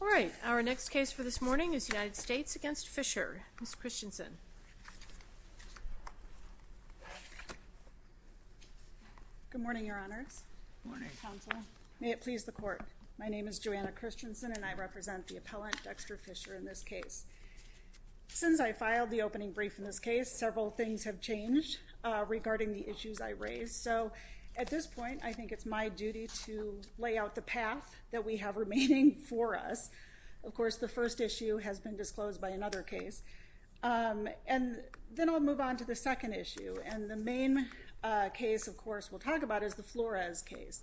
All right, our next case for this morning is United States v. Fisher. Ms. Christensen. Good morning, Your Honors. Good morning, Counsel. May it please the Court, my name is Joanna Christensen, and I represent the appellant, Dexter Fisher, in this case. Since I filed the opening brief in this case, several things have changed regarding the issues I raised. So at this point, I think it's my duty to lay out the path that we have remaining for us. Of course, the first issue has been disclosed by another case. And then I'll move on to the second issue. And the main case, of course, we'll talk about is the Flores case,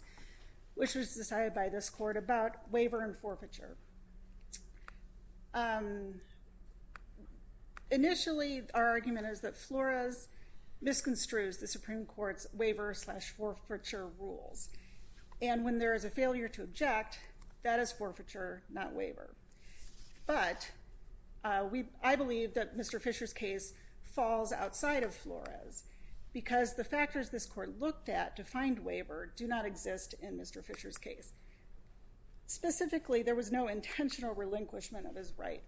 which was decided by this Court about waiver and forfeiture. Initially, our argument is that Flores misconstrues the Supreme Court's waiver slash forfeiture rules. And when there is a failure to object, that is forfeiture, not waiver. But I believe that Mr. Fisher's case falls outside of Flores, because the factors this Court looked at to find waiver do not exist in Mr. Fisher's case. Specifically, there was no intentional relinquishment of his right.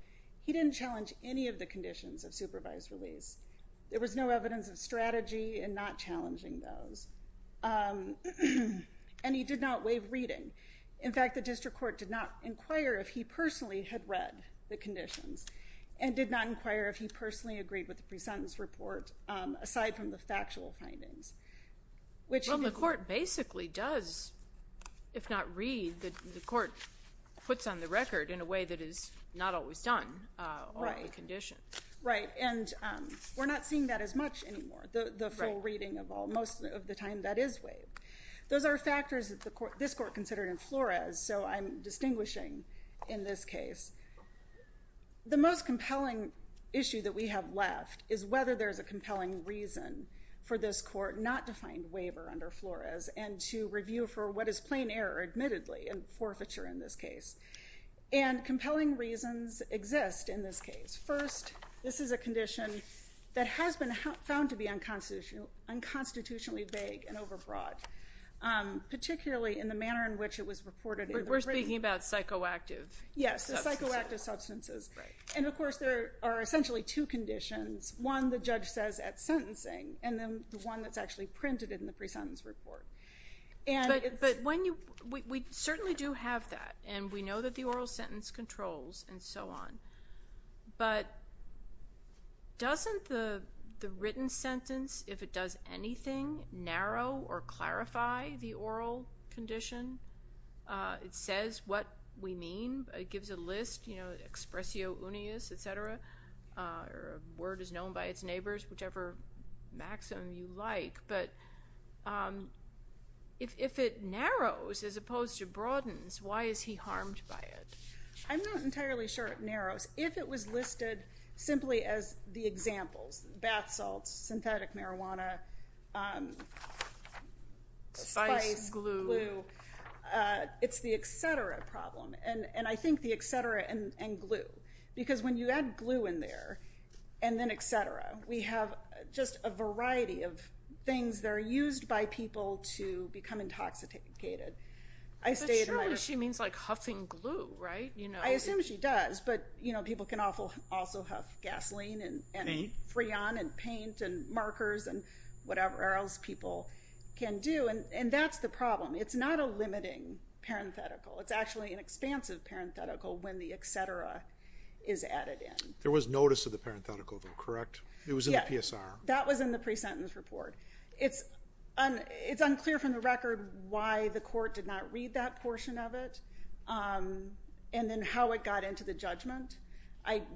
He didn't challenge any of the conditions of supervised release. There was no evidence of strategy in not challenging those. And he did not waive reading. In fact, the District Court did not inquire if he personally had read the conditions, and did not inquire if he personally agreed with the presentence report, aside from the factual findings, which the Court basically does, if not read, the Court puts on the record in a way that is not always done on the condition. Right. And we're not seeing that as much anymore, the full reading of all, most of the time that is waived. Those are factors that this Court considered in Flores, so I'm distinguishing in this case. The most compelling issue that we have left is whether there's a compelling reason for this Court not to find waiver under Flores and to review for what is plain error, admittedly, and forfeiture in this case. And compelling reasons exist in this case. First, this is a condition that has been found to be unconstitutionally vague and overbroad, particularly in the manner in which it was reported. We're speaking about psychoactive substances. Yes, the psychoactive substances. And of course, there are essentially two conditions. One, the judge says at sentencing, and then the one that's actually printed in the presentence report. But we certainly do have that, and we know that the oral sentence controls, and so on. But doesn't the written sentence, if it does anything, narrow or clarify the oral condition? It says what we mean. It gives a list, expressio unius, et cetera, or a word is known by its neighbors, whichever maxim you like. But if it narrows as opposed to broadens, why is he harmed by it? I'm not entirely sure it narrows. If it was listed simply as the examples, bath salts, synthetic marijuana, spice, glue, it's the et cetera problem. And I think the et cetera and glue. Because when you add glue in there, and then et cetera, we have just a variety of things that are used by people to become intoxicated. But surely she means like huffing glue, right? I assume she does, but people can also huff gasoline, and Freon, and paint, and markers, and whatever else people can do. And that's the problem. It's not a limiting parenthetical. It's actually an expansive parenthetical when the et cetera is added in. There was notice of the parenthetical though, correct? It was in the PSR. That was in the presentence report. It's unclear from the record why the court did not read that and how it got into the judgment.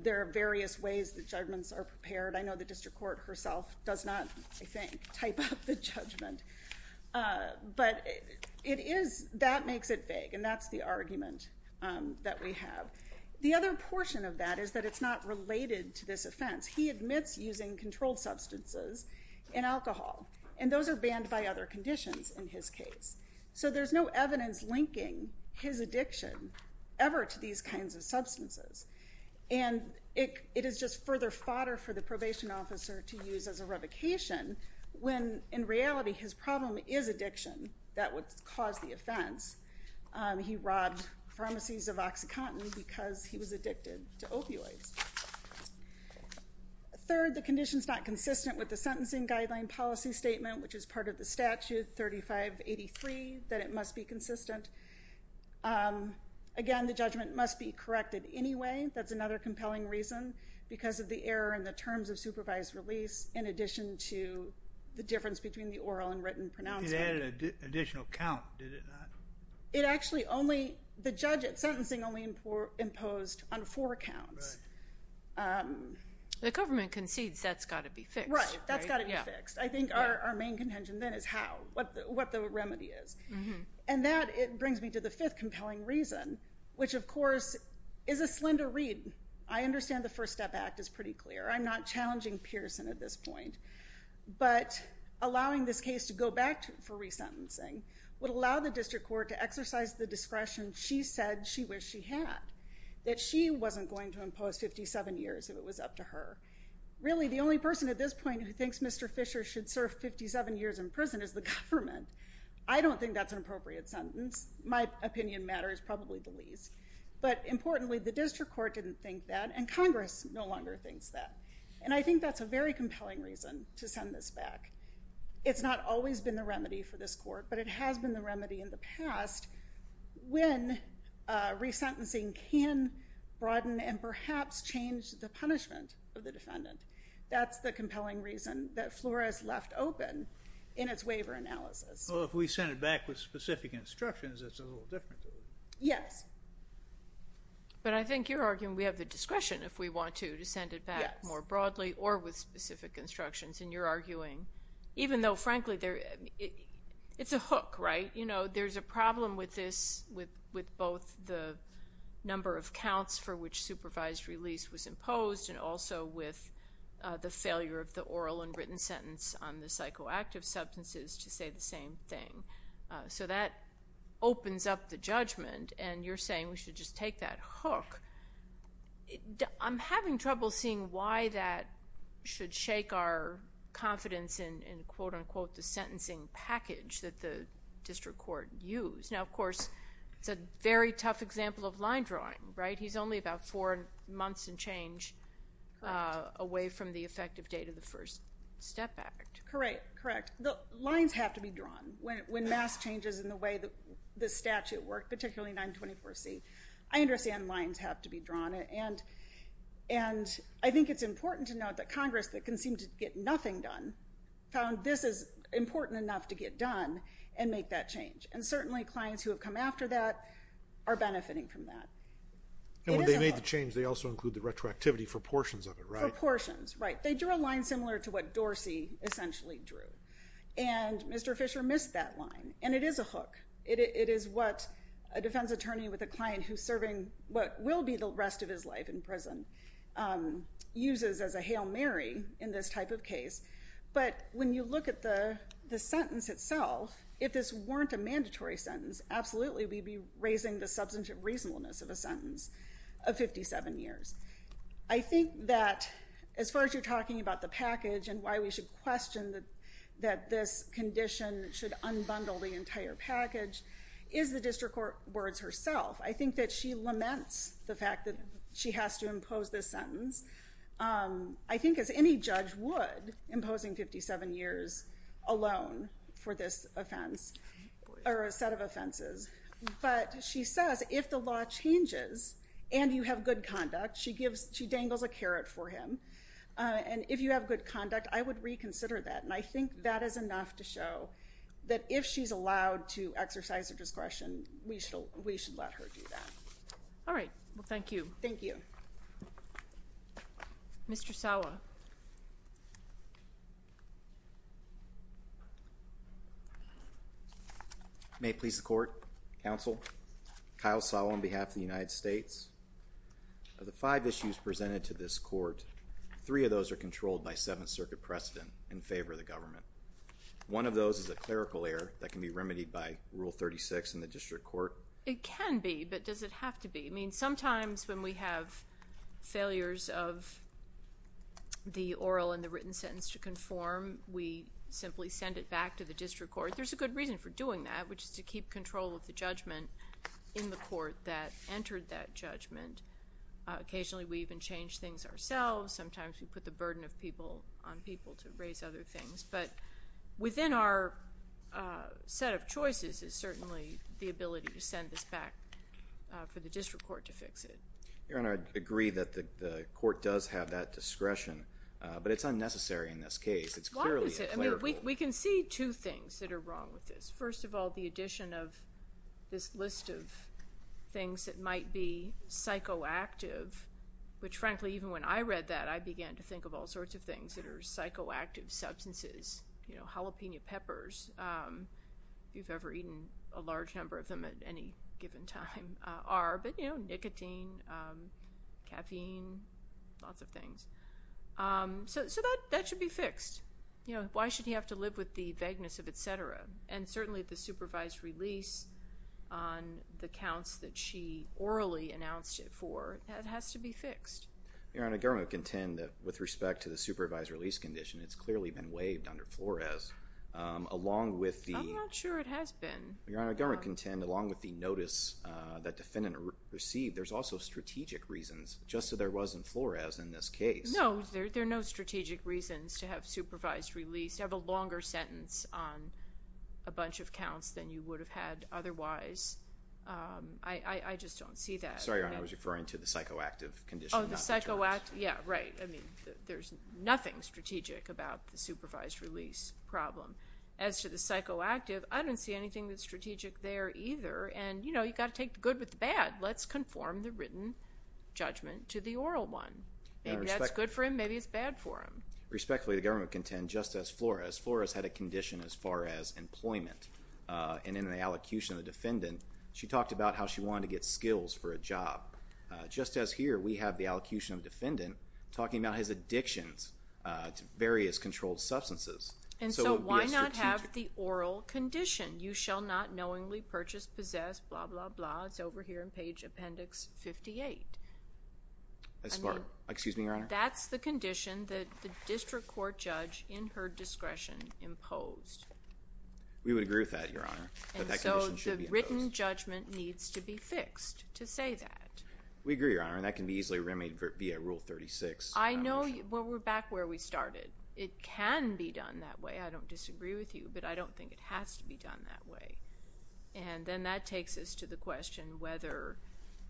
There are various ways the judgments are prepared. I know the district court herself does not, I think, type up the judgment. But that makes it vague, and that's the argument that we have. The other portion of that is that it's not related to this offense. He admits using controlled substances in alcohol, and those are banned by other conditions in his case. So there's no evidence linking his addiction ever to these kinds of substances. And it is just further fodder for the probation officer to use as a revocation when in reality his problem is addiction that would cause the offense. He robbed pharmacies of OxyContin because he was addicted to opioids. Third, the condition's not consistent with the sentencing guideline policy statement, which is part of the statute 3583 that it must be consistent. Again, the judgment must be corrected anyway. That's another compelling reason because of the error in the terms of supervised release in addition to the difference between the oral and written pronouncement. It added an additional count, did it not? It actually only, the judge at sentencing only imposed on four counts. The government concedes that's got to be fixed. That's got to be fixed. I think our main contention then is how, what the remedy is. And that, it brings me to the fifth compelling reason, which of course is a slender read. I understand the First Step Act is pretty clear. I'm not challenging Pearson at this point. But allowing this case to go back for resentencing would allow the district court to exercise the discretion she said she wished she had, that she wasn't going to impose 57 years if it was up to who thinks Mr. Fisher should serve 57 years in prison is the government. I don't think that's an appropriate sentence. My opinion matters probably the least. But importantly, the district court didn't think that and Congress no longer thinks that. And I think that's a very compelling reason to send this back. It's not always been the remedy for this court, but it has been the remedy in the past when resentencing can broaden and perhaps change the punishment of the defendant. That's the compelling reason that FLORA has left open in its waiver analysis. Well, if we send it back with specific instructions, it's a little different. Yes. But I think you're arguing we have the discretion if we want to, to send it back more broadly or with specific instructions. And you're arguing, even though, frankly, it's a hook, right? You know, there's a problem with this, with both the number of counts for which supervised release was imposed and also with the failure of the oral and written sentence on the psychoactive substances to say the same thing. So that opens up the judgment. And you're saying we should just take that hook. I'm having trouble seeing why that should shake our confidence in, quote, unquote, the sentencing package that the district court used. Now, of course, it's a very tough example of line drawing, right? He's only about four months and change away from the effective date of the first step act. Correct. Correct. The lines have to be drawn when mass changes in the way the statute worked, particularly 924C. I understand lines have to be drawn. And I think it's important to note that Congress, that can seem to get nothing done, found this is important enough to get done and make that change. And certainly clients who have come after that are benefiting from that. When they made the change, they also include the retroactivity for portions of it, right? For portions, right. They drew a line similar to what Dorsey essentially drew. And Mr. Fisher missed that line. And it is a hook. It is what a defense attorney with a client who's serving what will be the rest of his life in prison uses as a Hail Mary in this type of case. But when you look at the sentence itself, if this weren't a mandatory sentence, absolutely we'd be raising the substantive reasonableness of a sentence of 57 years. I think that as far as you're talking about the package and why we should question that this condition should unbundle the entire package is the district court words herself. I think that she laments the fact that she has to impose this sentence. I think as any judge would, imposing 57 years alone for this offense or a set of offenses. But she says if the law changes and you have good conduct, she dangles a carrot for him. And if you have good conduct, I would reconsider that. And I think that is enough to show that if she's allowed to exercise her discretion, we should let her do that. All right. Well, thank you. Thank you. Mr. Sawa. May it please the court, counsel, Kyle Sawa on behalf of the United States. Of the five issues presented to this court, three of those are controlled by Seventh Circuit precedent in favor of the government. One of those is a clerical error that can be remedied by Rule 36 in the district court. It can be, but does it have to be? I mean, sometimes when we have failures of the oral and the written sentence to conform, we simply send it back to the district court. There's a good reason for doing that, which is to keep control of the judgment in the court that entered that judgment. Occasionally, we even change things ourselves. Sometimes we put the burden of people on people to raise other things. But within our set of choices is certainly the ability to send this back for the district court to fix it. Your Honor, I agree that the court does have that discretion, but it's unnecessary in this case. It's clearly a clerical error. We can see two things that are wrong with this. First of all, the addition of this list of things that might be psychoactive, which frankly, even when I read that, I began to think of all sorts of things that are psychoactive substances. You know, jalapeno peppers, if you've ever eaten a large number of them at any given time, are, but you know, nicotine, caffeine, lots of things. So that should be fixed. You know, why should he have to live with the vagueness of et cetera? And certainly, the supervised release on the counts that she orally announced it for, that has to be fixed. Your Honor, government contend that with respect to the supervised release condition, it's clearly been waived under Flores, along with the... I'm not sure it has been. Your Honor, government contend, along with the notice that defendant received, there's also strategic reasons, just as there was in Flores in this case. No, there are no strategic reasons to have supervised release, to have a longer sentence on a bunch of counts than you would have had otherwise. I just don't see that. Sorry, Your Honor, I was referring to the psychoactive condition. Oh, the psychoactive, yeah, right. I mean, there's nothing strategic about the supervised release problem. As to the psychoactive, I don't see anything that's strategic there either. And you know, you've got to take the good with the bad. Let's conform the written judgment to the oral one. Maybe that's good for him, maybe it's bad for him. Respectfully, the government contend, just as Flores, Flores had a condition as far as employment. And in the allocution of the defendant, she talked about how she wanted to get skills for a job. Just as here, we have the allocution of defendant talking about his addictions to various controlled substances. And so why not have the oral condition, you shall not knowingly purchase, possess, blah, blah, blah. It's over here in page appendix 58. That's part, excuse me, Your Honor. That's the condition that the district court judge in her discretion imposed. We would agree with that, Your Honor. And so the written judgment needs to be fixed to say that. We agree, Your Honor, and that can be easily remedied via rule 36. Well, we're back where we started. It can be done that way. I don't disagree with you, but I don't think it has to be done that way. And then that takes us to the question whether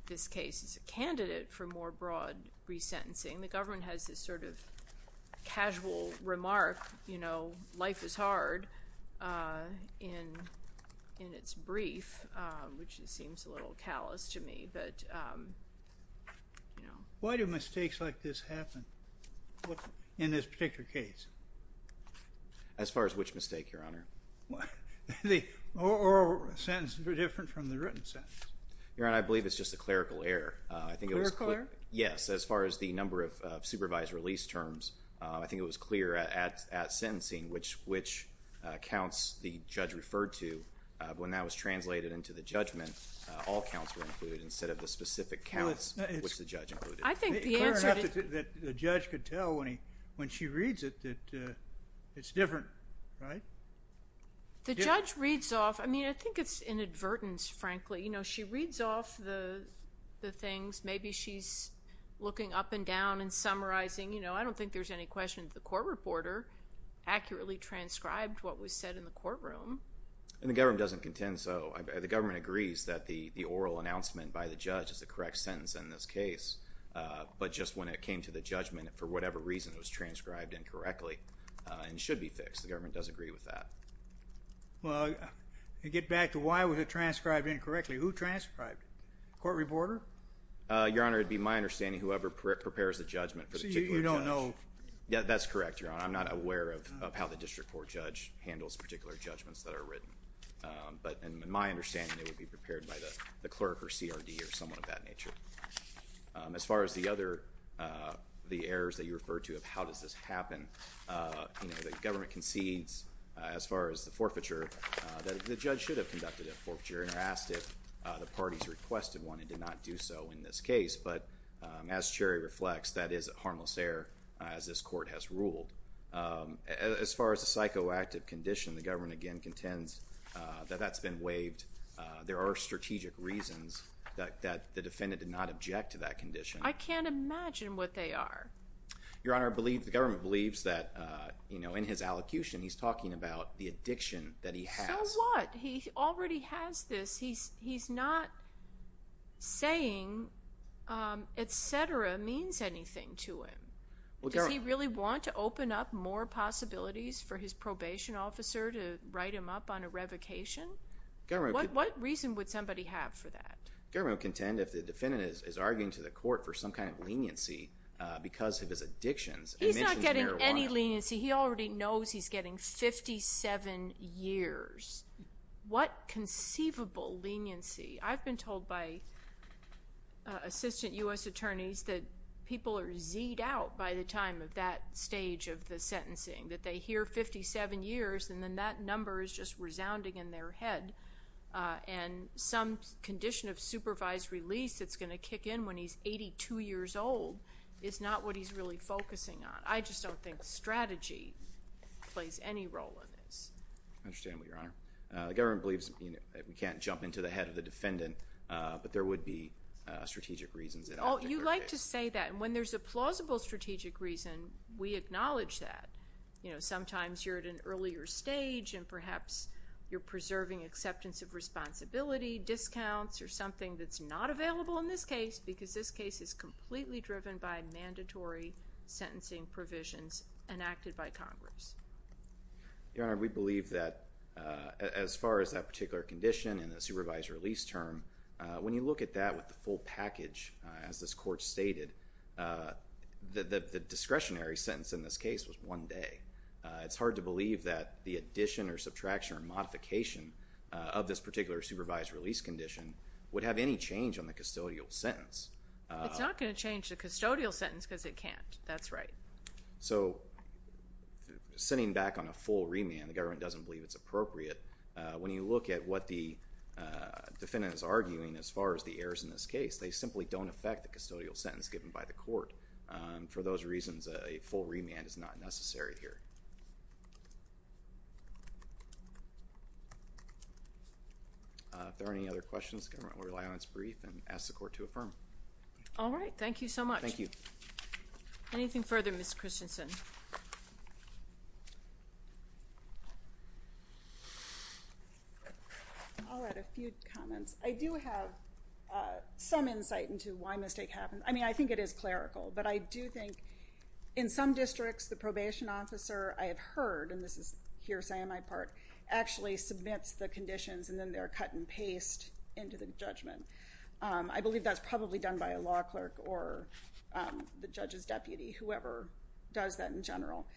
this case is a candidate for more broad resentencing. The government has this sort of casual remark, you know, life is hard in its brief, which seems a little callous to me. But, you know. Why do mistakes like this happen in this particular case? As far as which mistake, Your Honor? The oral sentences are different from the written sentences. Your Honor, I believe it's just a clerical error. I think it was clear. Clerical error? Yes. As far as the number of supervised release terms, I think it was clear at sentencing, which counts the judge referred to, when that was translated into the judgment, all counts were included, instead of the specific counts, which the judge included. I think the answer to... It's clear enough that the judge could tell when she reads it, that it's different, right? The judge reads off. I mean, I think it's inadvertence, frankly. You know, she reads off the things. Maybe she's looking up and down and summarizing. You know, I don't think there's any question that the court reporter accurately transcribed what was said in the courtroom. And the government doesn't contend so. The government agrees that the oral announcement by the judge is the correct sentence in this case. But just when it came to the judgment, for whatever reason, it was transcribed incorrectly and should be fixed. The government does agree with that. Well, to get back to why was it transcribed incorrectly, who transcribed it? Court reporter? Your Honor, it'd be my understanding whoever prepares the judgment for the particular judge. So you don't know... Yeah, that's correct, Your Honor. I'm not aware of how the district court judge handles particular judgmentsments that are written. But in my understanding, it would be prepared by the clerk or CRD or someone of that nature. As far as the errors that you referred to of how does this happen? You know, the government concedes, as far as the forfeiture, that the judge should have conducted a forfeiture and asked if the parties requested one and did not do so in this case. But as Cherry reflects, that is a harmless error, as this court has ruled. As far as the psychoactive condition, the government again contends that that's been waived. There are strategic reasons that the defendant did not object to that condition. I can't imagine what they are. Your Honor, I believe the government believes that, you know, in his allocution, he's talking about the addiction that he has. So what? He already has this. He's not saying et cetera means anything to him. Does he really want to open up more possibilities for his probation officer to write him up on a revocation? What reason would somebody have for that? Government contend if the defendant is arguing to the court for some kind of leniency because of his addictions. He's not getting any leniency. He already knows he's getting 57 years. What conceivable leniency? I've been told by assistant U.S. attorneys that people are z'ed out by the time of that stage of the sentencing, that they hear 57 years and then that number is just resounding in their head. And some condition of supervised release that's going to kick in when he's 82 years old is not what he's really focusing on. I just don't think strategy plays any role in this. I understand, Your Honor. The government believes we can't jump into the head of the defendant, but there would be strategic reasons. Oh, you like to say that. And when there's a plausible strategic reason, we acknowledge that. Sometimes you're at an earlier stage and perhaps you're preserving acceptance of responsibility, discounts or something that's not available in this case because this case is completely driven by mandatory sentencing provisions enacted by Congress. Your Honor, we believe that as far as that particular condition and the supervised release term, when you look at that with the full package, as this court stated, the discretionary sentence in this case was one day. It's hard to believe that the addition or subtraction or modification of this particular supervised release condition would have any change on the custodial sentence. It's not going to change the custodial sentence because it can't. That's right. So sitting back on a full remand, the government doesn't believe it's appropriate. When you look at what the defendant is arguing as far as the errors in this case, they simply don't affect the custodial sentence given by the court. For those reasons, a full remand is not necessary here. If there are any other questions, the government will rely on its brief and ask the court to affirm. All right. Thank you so much. Thank you. Anything further, Ms. Christensen? I'll add a few comments. I do have some insight into why a mistake happened. I mean, I think it is clerical. But I do think in some districts, the probation officer I have heard, and this is hearsay on my part, actually submits the conditions and then they're cut and paste into the judgment. I believe that's probably done by a law clerk or the judge's deputy, whoever does that in general.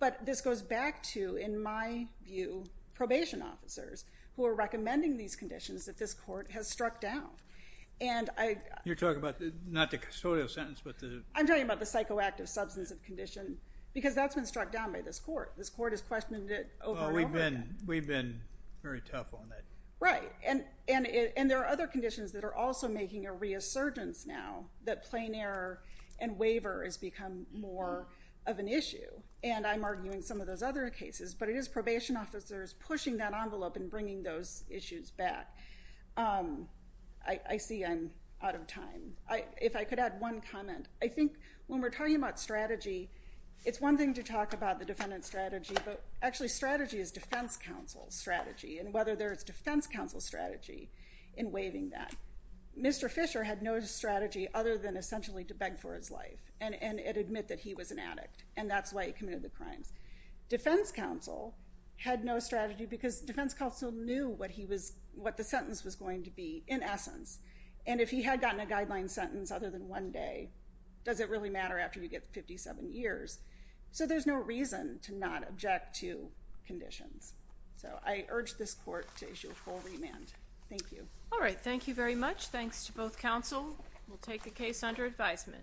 But this goes back to, in my view, probation officers who are recommending these conditions that this court has struck down. You're talking about not the custodial sentence, but the... I'm talking about the psychoactive substance of condition because that's been struck down by this court. This court has questioned it over and over again. We've been very tough on that. Right. And there are other conditions that are also making a reassurgence now that plain error and waiver has become more of an issue. And I'm arguing some of those other cases. But it is probation officers pushing that envelope and bringing those issues back. I see I'm out of time. If I could add one comment. I think when we're talking about strategy, it's one thing to talk about the defendant's strategy. But actually, strategy is defense counsel's strategy. And whether there is defense counsel's strategy in waiving that. Mr. Fisher had no strategy other than essentially to beg for his life and admit that he was an addict. And that's why he committed the crimes. Defense counsel had no strategy because defense counsel knew what the sentence was going to be in essence. And if he had gotten a guideline sentence other than one day, does it really matter after you get 57 years? So there's no reason to not object to conditions. So I urge this court to issue a full remand. Thank you. All right. Thank you very much. Thanks to both counsel. We'll take a case under advisement.